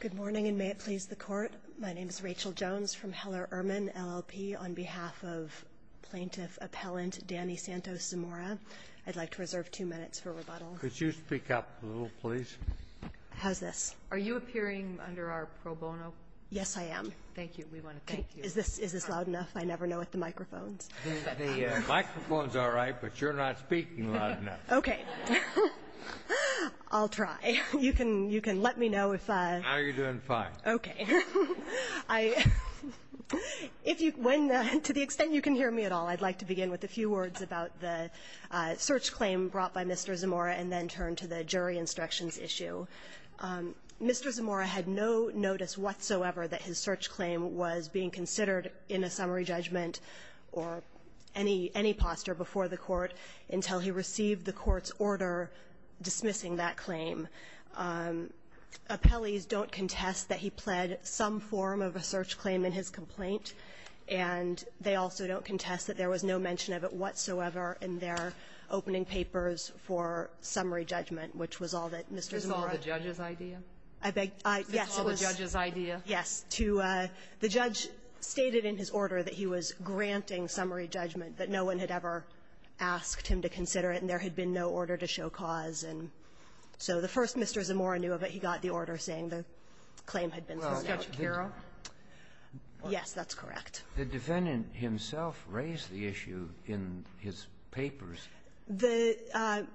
Good morning, and may it please the Court. My name is Rachel Jones from Heller-Urman LLP. On behalf of Plaintiff Appellant Danny Santos-Zamora, I'd like to reserve two minutes for rebuttal. Could you speak up a little, please? How's this? Are you appearing under our pro bono? Yes, I am. Thank you. We want to thank you. Is this loud enough? I never know with the microphones. The microphone's all right, but you're not speaking loud enough. Okay. I'll try. You can let me know if... No, you're doing fine. Okay. To the extent you can hear me at all, I'd like to begin with a few words about the search claim brought by Mr. Zamora, and then turn to the jury instructions issue. Mr. Zamora had no notice whatsoever that his search claim was being considered in a summary judgment or any posture before the Court until he received the Court's order dismissing that claim. Appellees don't contest that he pled some form of a search claim in his complaint, and they also don't contest that there was no mention of it whatsoever in their opening papers for summary judgment, which was all that Mr. Zamora... Is this all the judge's idea? I beg your pardon? Yes. Is this all the judge's idea? Yes. To the judge stated in his order that he was granting summary judgment, that no one had ever asked him to consider it, and there had been no order to show cause, and so the first Mr. Zamora knew of it, he got the order saying the claim had been set out. Mr. Shapiro? Yes, that's correct. The defendant himself raised the issue in his papers. The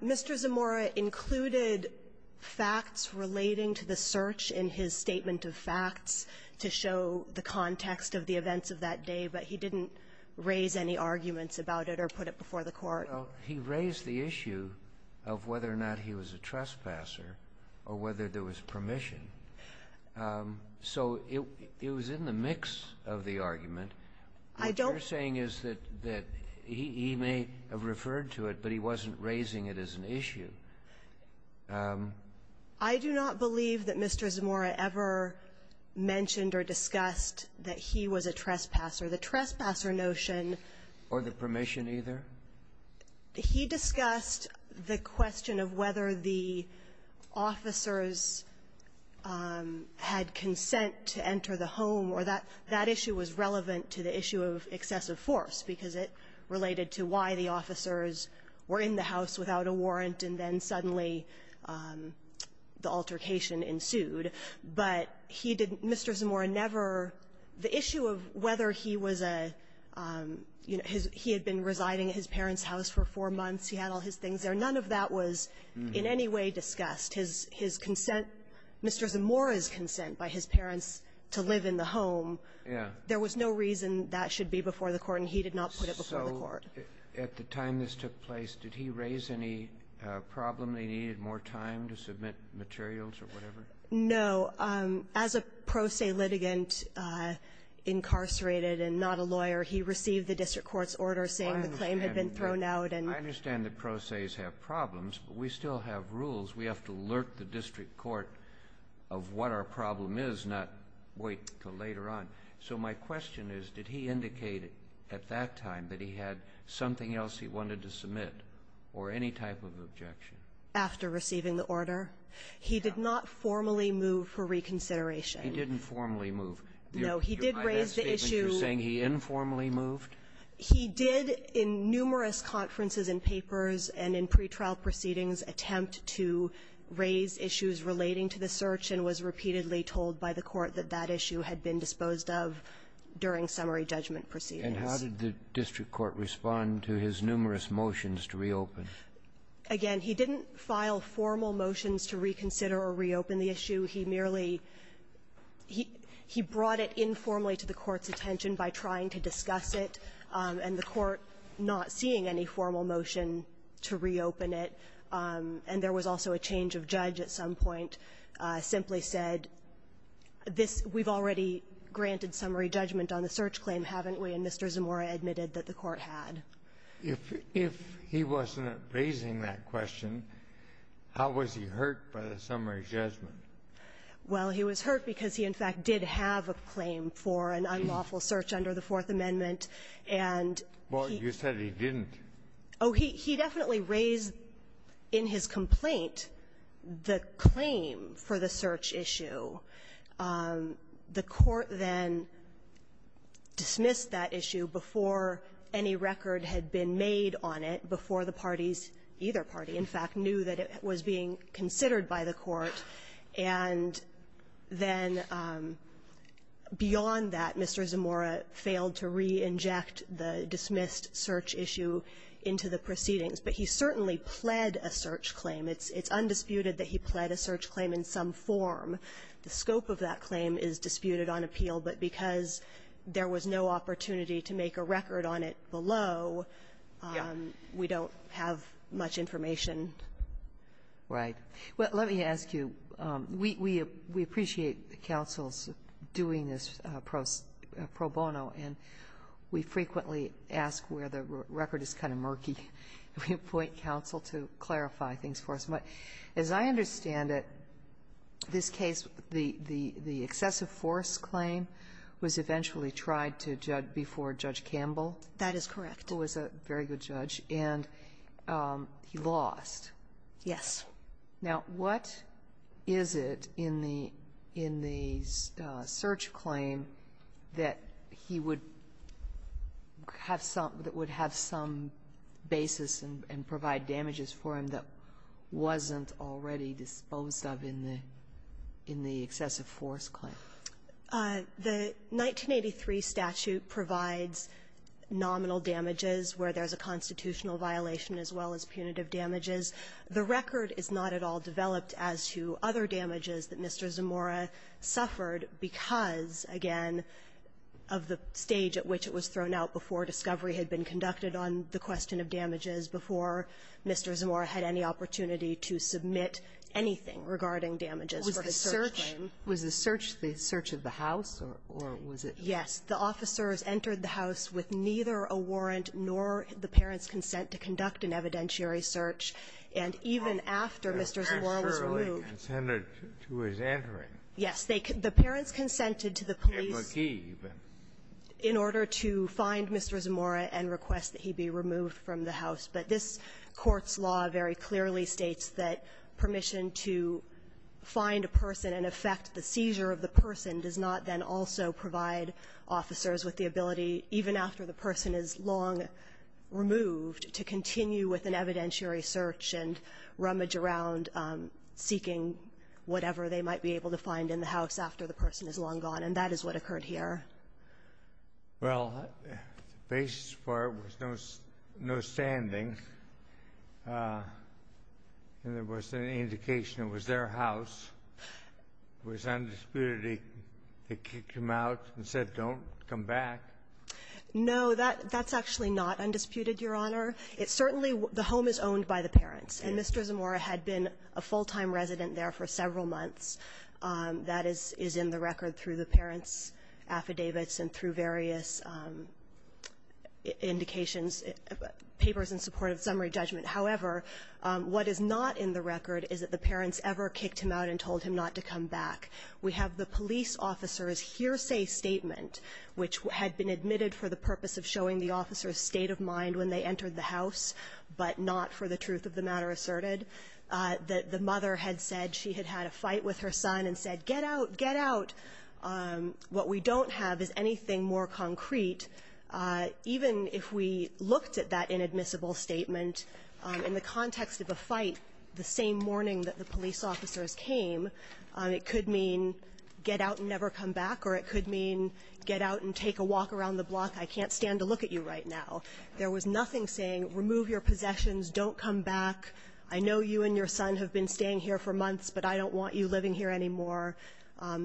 Mr. Zamora included facts relating to the search in his statement of facts to show the context of the events of that day, but he didn't raise any arguments about it or put it before the Court. Well, he raised the issue of whether or not he was a trespasser or whether there was permission. So it was in the mix of the argument. What you're saying is that he may have referred to it, but he wasn't raising it as an issue. I do not believe that he was a trespasser. The trespasser notion or the permission either? He discussed the question of whether the officers had consent to enter the home, or that issue was relevant to the issue of excessive force, because it related to why the officers were in the house without a warrant, and then suddenly the altercation ensued. But he didn't, Mr. Zamora never, the issue of whether he was a, you know, he had been residing at his parents' house for four months, he had all his things there, none of that was in any way discussed. His consent, Mr. Zamora's consent by his parents to live in the home, there was no reason that should be before the Court, and he did not put it before the Court. At the time this took place, did he raise any problem that he needed more time to submit materials or whatever? No. As a pro se litigant incarcerated and not a lawyer, he received the district court's order saying the claim had been thrown out, and we still have rules. We have to alert the district court of what our problem is, not wait until later on. So my question is, did he indicate at that time that he had something else he wanted to submit or any type of objection? After receiving the order. He did not formally move for reconsideration. He didn't formally move. No. He did raise the issue. You're saying he informally moved? He did in numerous conferences and papers and in pretrial proceedings attempt to raise issues relating to the search and was repeatedly told by the Court that that And how did the district court respond to his numerous motions to reopen? Again, he didn't file formal motions to reconsider or reopen the issue. He merely he he brought it informally to the Court's attention by trying to discuss it, and the Court, not seeing any formal motion to reopen it, and there was also a change of judge at some point, simply said this, we've already granted summary judgment on the search claim, haven't we? And Mr. Zamora admitted that the Court had. If he wasn't raising that question, how was he hurt by the summary judgment? Well, he was hurt because he, in fact, did have a claim for an unlawful search under the Fourth Amendment, and he Well, you said he didn't. Oh, he definitely raised in his complaint the claim for the search issue. The Court then dismissed that issue before any record had been made on it, before the parties, either party, in fact, knew that it was being considered by the Court, and then beyond that, Mr. Zamora failed to re-inject the dismissed search issue into the proceedings. But he certainly pled a search claim. It's undisputed that he pled a search claim in some form. The scope of that claim is disputed on appeal, but because there was no opportunity to make a record on it below, we don't have much information. Right. Well, let me ask you, we appreciate the counsels doing this pro bono, and we frequently ask where the record is kind of murky. We appoint counsel to clarify things for us. But as I understand it, this case, the excessive force claim was eventually tried to judge before Judge Campbell. That is correct. Who was a very good judge, and he lost. Yes. Now, what is it in the search claim that he would have some – that would have some basis and provide damages for him that wasn't already disposed of in the excessive force claim? The 1983 statute provides nominal damages where there's a constitutional violation as well as punitive damages. The record is not at all developed as to other damages that Mr. Zamora suffered because, again, of the stage at which it was thrown out before discovery had been before Mr. Zamora had any opportunity to submit anything regarding damages for his search claim. Was the search the search of the house, or was it – Yes. The officers entered the house with neither a warrant nor the parents' consent to conduct an evidentiary search, and even after Mr. Zamora was removed – They were assuredly consented to his entering. Yes. They could – the parents consented to the police in order to find Mr. Zamora and request that he be removed from the house. But this Court's law very clearly states that permission to find a person and affect the seizure of the person does not then also provide officers with the ability, even after the person is long removed, to continue with an evidentiary search and rummage around seeking whatever they might be able to find in the house after the person is long gone. And that is what occurred here. Well, the basis for it was no standing, and there was an indication it was their house. It was undisputed they kicked him out and said, don't come back. No, that's actually not undisputed, Your Honor. It certainly – the home is owned by the parents, and Mr. Zamora had been a full-time resident there for several months. That is in the record through the parents' affidavits and through various indications – papers in support of summary judgment. However, what is not in the record is that the parents ever kicked him out and told him not to come back. We have the police officer's hearsay statement, which had been admitted for the purpose of showing the officer's state of mind when they entered the house, but not for the truth of the matter asserted. The mother had said she had had a fight with her son and said, get out, get out. What we don't have is anything more concrete. Even if we looked at that inadmissible statement in the context of a fight the same morning that the police officers came, it could mean get out and never come back, or it could mean get out and take a walk around the block. I can't stand to look at you right now. There was nothing saying, remove your possessions, don't come back. I know you and your son have been staying here for months, but I don't want you living here anymore.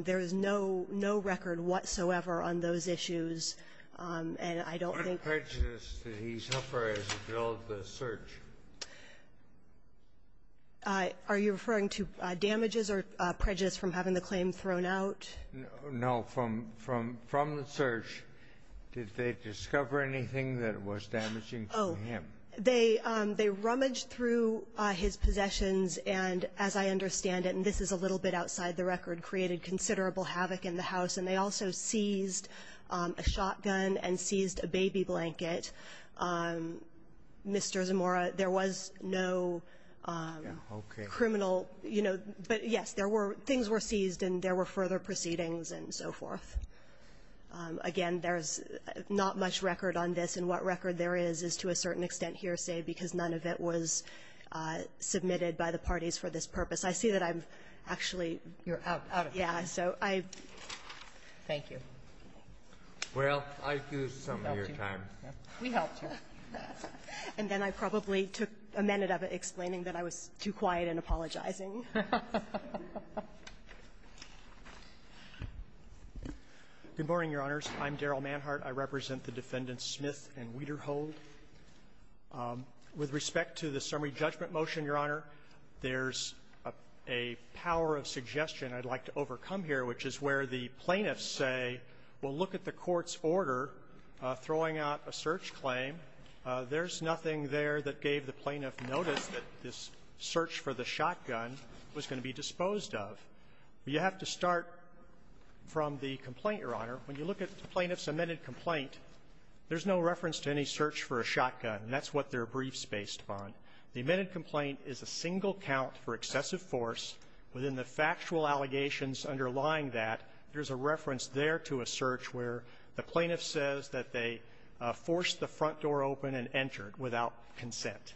There is no record whatsoever on those issues. And I don't think – What prejudice did he suffer as a result of the search? Are you referring to damages or prejudice from having the claim thrown out? No. From the search, did they discover anything that was damaging to him? They rummaged through his possessions and, as I understand it, and this is a little bit outside the record, created considerable havoc in the house, and they also seized a shotgun and seized a baby blanket. Mr. Zamora, there was no criminal – but yes, things were seized and there were further proceedings and so forth. Again, there's not much record on this, and what record there is, is to a certain extent hearsay, because none of it was submitted by the parties for this purpose. I see that I'm actually – You're out. Yeah. So I – Thank you. Well, I do some of your time. We helped you. And then I probably took a minute of it explaining that I was too quiet and apologizing. Good morning, Your Honors. I'm Darrell Manhart. I represent the Defendants Smith and Wiederhold. With respect to the summary judgment motion, Your Honor, there's a power of suggestion I'd like to overcome here, which is where the plaintiffs say, well, look at the court's order throwing out a search claim. There's nothing there that gave the plaintiff notice that this search for the shotgun was going to be disposed of. You have to start from the complaint, Your Honor. When you look at the plaintiff's amended complaint, there's no reference to any search for a shotgun, and that's what their brief's based upon. The amended complaint is a single count for excessive force. Within the factual allegations underlying that, there's a reference there to a search where the plaintiff says that they forced the front door open and entered without consent.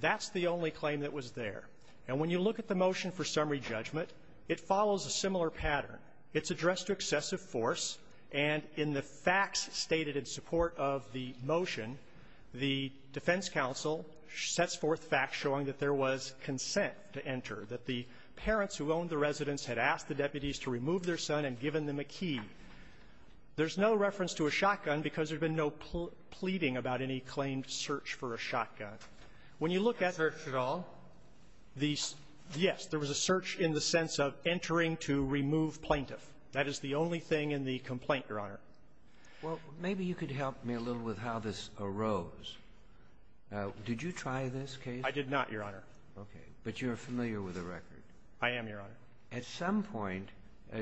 That's the only claim that was there. And when you look at the motion for summary judgment, it follows a similar pattern. It's addressed to excessive force, and in the facts stated in support of the motion, the defense counsel sets forth facts showing that there was consent to enter, that the parents who owned the residence had asked the deputies to remove their son and given them a key. There's no reference to a shotgun because there's been no pleading about any claimed search for a shotgun. When you look at the search at all, the yes, there was a search in the sense of entering to remove plaintiff. That is the only thing in the complaint, Your Honor. Well, maybe you could help me a little with how this arose. Now, did you try this case? I did not, Your Honor. Okay. But you're familiar with the record. I am, Your Honor. At some point,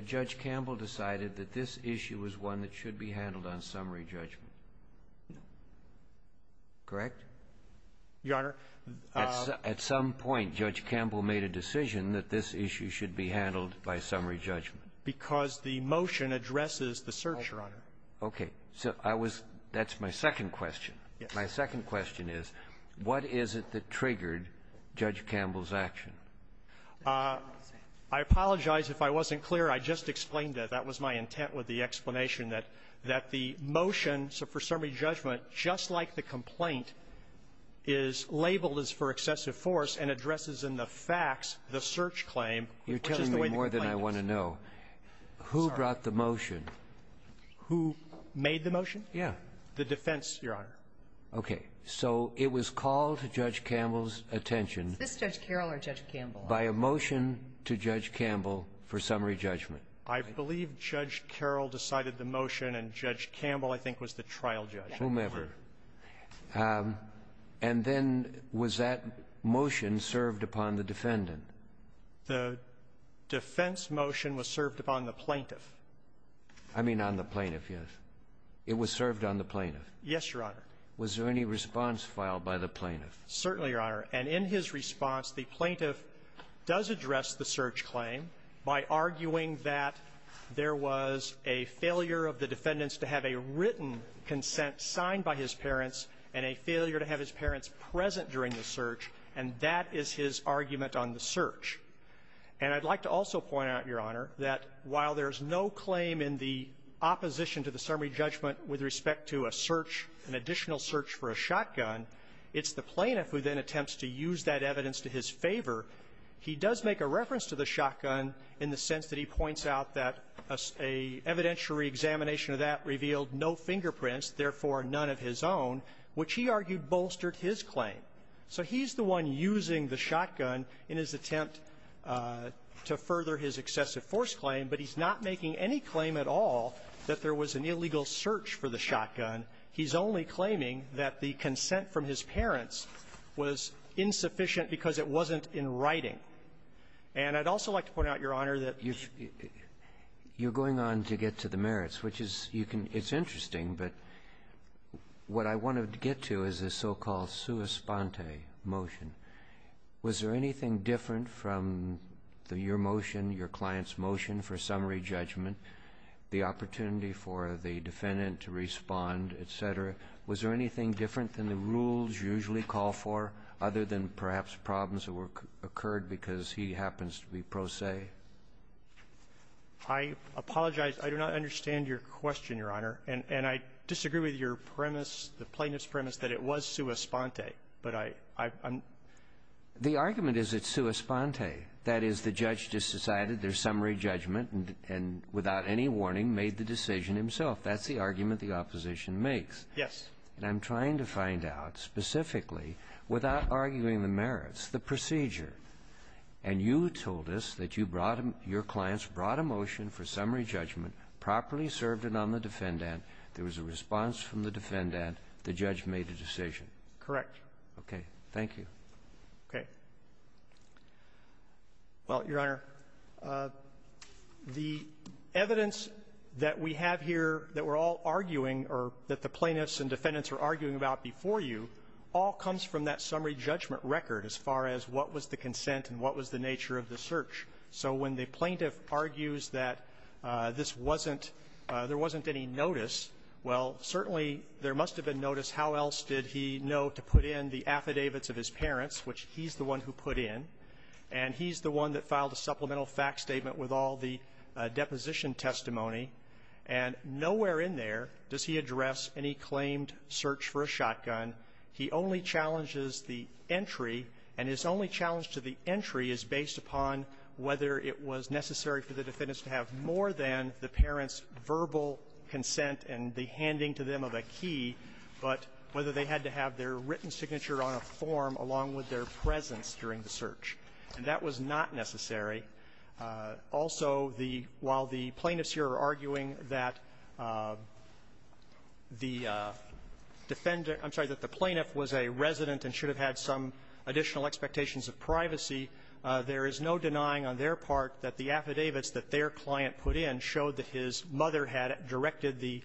Judge Campbell decided that this issue was one that should be handled on summary judgment. Correct? Your Honor, the ---- At some point, Judge Campbell made a decision that this issue should be handled by summary judgment. Because the motion addresses the search, Your Honor. Okay. So I was --- that's my second question. Yes. My second question is, what is it that triggered Judge Campbell's action? I apologize if I wasn't clear. I just explained that. That was my intent with the explanation, that the motion for summary judgment, just like the complaint, is labeled as for excessive force and addresses in the facts the search claim, which is the way the complaint is. You're telling me more than I want to know. Who brought the motion? Who made the motion? Yeah. The defense, Your Honor. Okay. So it was called to Judge Campbell's attention by a motion to Judge Campbell for summary judgment. I believe Judge Carroll decided the motion, and Judge Campbell, I think, was the trial judge. Whomever. And then was that motion served upon the defendant? The defense motion was served upon the plaintiff. I mean on the plaintiff, yes. It was served on the plaintiff. Yes, Your Honor. Was there any response filed by the plaintiff? Certainly, Your Honor. And in his response, the plaintiff does address the search claim by arguing that there was a failure of the defendants to have a written consent signed by his parents and a failure to have his parents present during the search, and that is his argument on the search. And I'd like to also point out, Your Honor, that while there's no claim in the opposition to the summary judgment with respect to a search, an additional search for a shotgun, it's the plaintiff who then attempts to use that evidence to his favor. He does make a reference to the shotgun in the sense that he points out that a evidentiary examination of that revealed no fingerprints, therefore none of his own, which he argued bolstered his claim. So he's the one using the shotgun in his attempt to further his excessive force claim, but he's not making any claim at all that there was an illegal search for the shotgun. He's only claiming that the consent from his parents was insufficient because it wasn't in writing. And I'd also like to point out, Your Honor, that you're going on to get to the merits, which is you can — it's interesting, but what I wanted to get to is the so-called sua sponte motion. Was there anything different from your motion, your client's motion for summary judgment, the opportunity for the defendant to respond, et cetera? Was there anything different than the rules you usually call for, other than perhaps the problems that occurred because he happens to be pro se? I apologize. I do not understand your question, Your Honor. And I disagree with your premise, the plaintiff's premise, that it was sua sponte. But I'm — The argument is it's sua sponte. That is, the judge just decided there's summary judgment and without any warning made the decision himself. That's the argument the opposition makes. Yes. And I'm trying to find out specifically, without arguing the merits, the procedure. And you told us that you brought — your clients brought a motion for summary judgment, properly served it on the defendant. There was a response from the defendant. The judge made a decision. Correct. Okay. Thank you. Okay. Well, Your Honor, the evidence that we have here that we're all arguing, or that the plaintiffs and defendants are arguing about before you, all comes from that summary judgment record as far as what was the consent and what was the nature of the search. So when the plaintiff argues that this wasn't — there wasn't any notice, well, certainly there must have been notice. How else did he know to put in the affidavits of his parents, which he's the one who put in, and he's the one that filed a supplemental fact statement with all the deposition testimony? And nowhere in there does he address any claimed search for a shotgun. He only challenges the entry. And his only challenge to the entry is based upon whether it was necessary for the defendants to have more than the parents' verbal consent and the handing to them of a key, but whether they had to have their written signature on a form along with their presence during the search. And that was not necessary. Also, the — while the plaintiffs here are arguing that the defendant — I'm sorry, that the plaintiff was a resident and should have had some additional expectations of privacy, there is no denying on their part that the affidavits that their client put in showed that his mother had directed the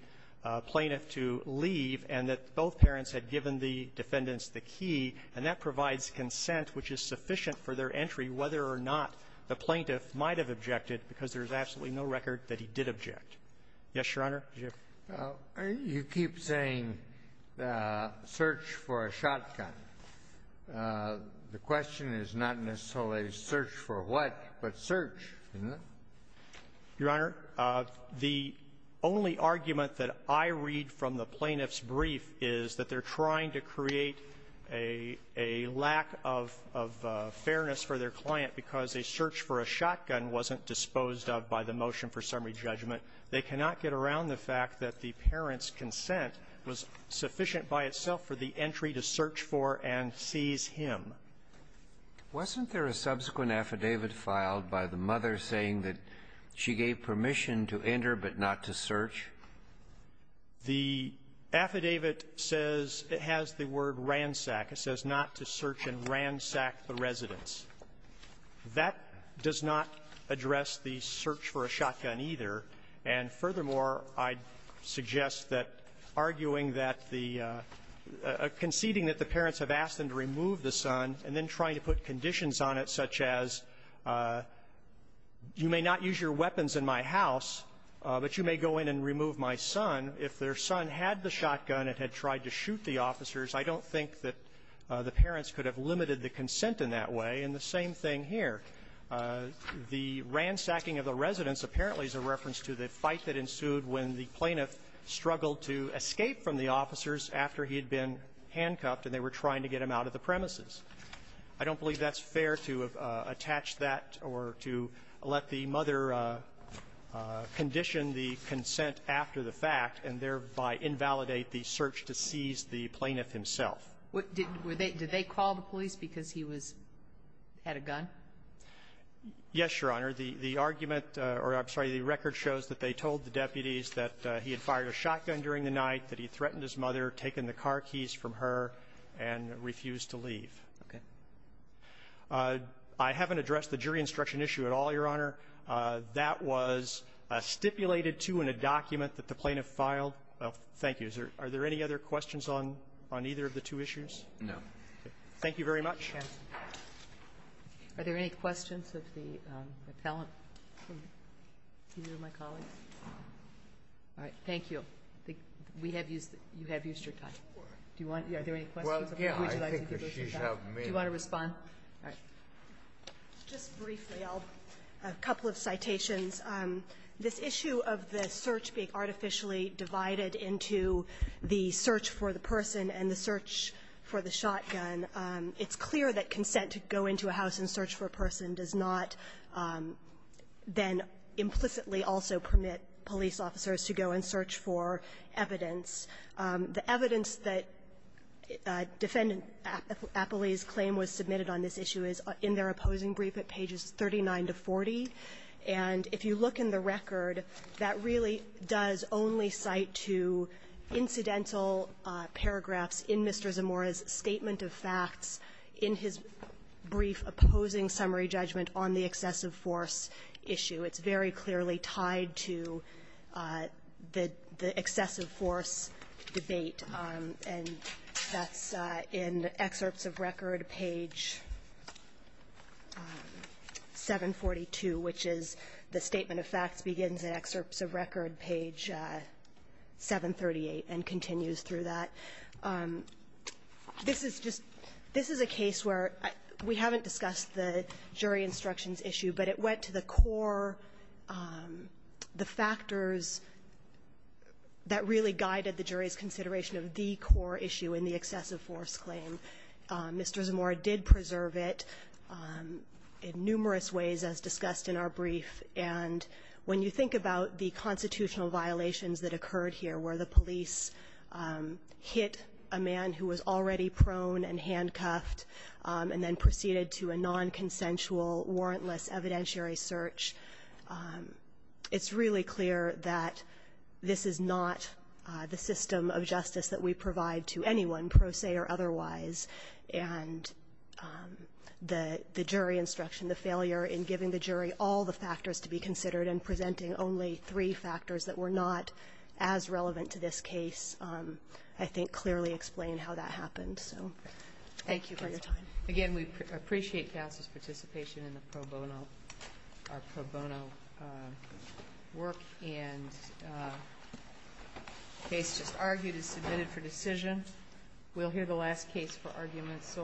plaintiff to leave and that both parents had given the defendants the key. And that provides consent which is sufficient for their entry, whether or not the plaintiff might have objected, because there's absolutely no record that he did object. Yes, Your Honor? You keep saying search for a shotgun. The question is not necessarily search for what, but search, isn't it? Your Honor, the only argument that I read from the plaintiff's brief is that they're trying to create a lack of fairness for their client because a search for a shotgun wasn't disposed of by the motion for summary judgment. They cannot get around the fact that the parent's consent was sufficient by itself for the entry to search for and seize him. Wasn't there a subsequent affidavit filed by the mother saying that she gave permission to enter but not to search? The affidavit says it has the word ransack. It says not to search and ransack the residence. That does not address the search for a shotgun either. And furthermore, I'd suggest that arguing that the conceding that the parents have asked them to remove the son and then trying to put conditions on it such as you may not use your weapons in my house, but you may go in and remove my son. If their son had the shotgun and had tried to shoot the officers, I don't think that the parents could have limited the consent in that way. And the same thing here. The ransacking of the residence apparently is a reference to the fight that ensued when the plaintiff struggled to escape from the officers after he had been handcuffed and they were trying to get him out of the premises. I don't believe that's fair to attach that or to let the mother condition the consent after the fact and thereby invalidate the search to seize the plaintiff himself. Did they call the police because he was at a gun? Yes, Your Honor. The argument, or I'm sorry, the record shows that they told the deputies that he had fired a shotgun during the night, that he threatened his mother, taken the car keys from her, and refused to leave. Okay. I haven't addressed the jury instruction issue at all, Your Honor. That was stipulated, too, in a document that the plaintiff filed. Thank you. Are there any other questions on either of the two issues? No. Thank you very much. Are there any questions of the appellant? All right. Thank you. We have used the you have used your time. Do you want to do any questions? Do you want to respond? Just briefly, a couple of citations. This issue of the search being artificially divided into the search for the person and the search for the shotgun, it's clear that consent to go into a house and search for a person does not then implicitly also permit police officers to go and search for evidence. The evidence that Defendant Appley's claim was submitted on this issue is in their opposing brief at pages 39 to 40. And if you look in the record, that really does only cite to incidental paragraphs in Mr. Zamora's statement of facts in his brief opposing summary judgment on the excessive force issue. It's very clearly tied to the excessive force debate. And that's in excerpts of record, page 742, which is the statement of facts begins in excerpts of record, page 738, and continues through that. This is just this is a case where we haven't discussed the jury instructions issue, but it went to the core, the factors that really guided the jury's consideration of the core issue in the excessive force claim. Mr. Zamora did preserve it in numerous ways as discussed in our brief. And when you think about the constitutional violations that occurred here where the police hit a man who was already prone and handcuffed and then proceeded to a nonconsensual warrantless evidentiary search, it's really clear that this is not the system of justice that we provide to anyone, pro se or otherwise. And the jury instruction, the failure in giving the jury all the factors to be considered and presenting only three factors that were not as relevant to this case, I think clearly explained how that happened. So thank you for your time. Again, we appreciate counsel's participation in the pro bono, our pro bono work and case just argued and submitted for decision. We'll hear the last case for arguments.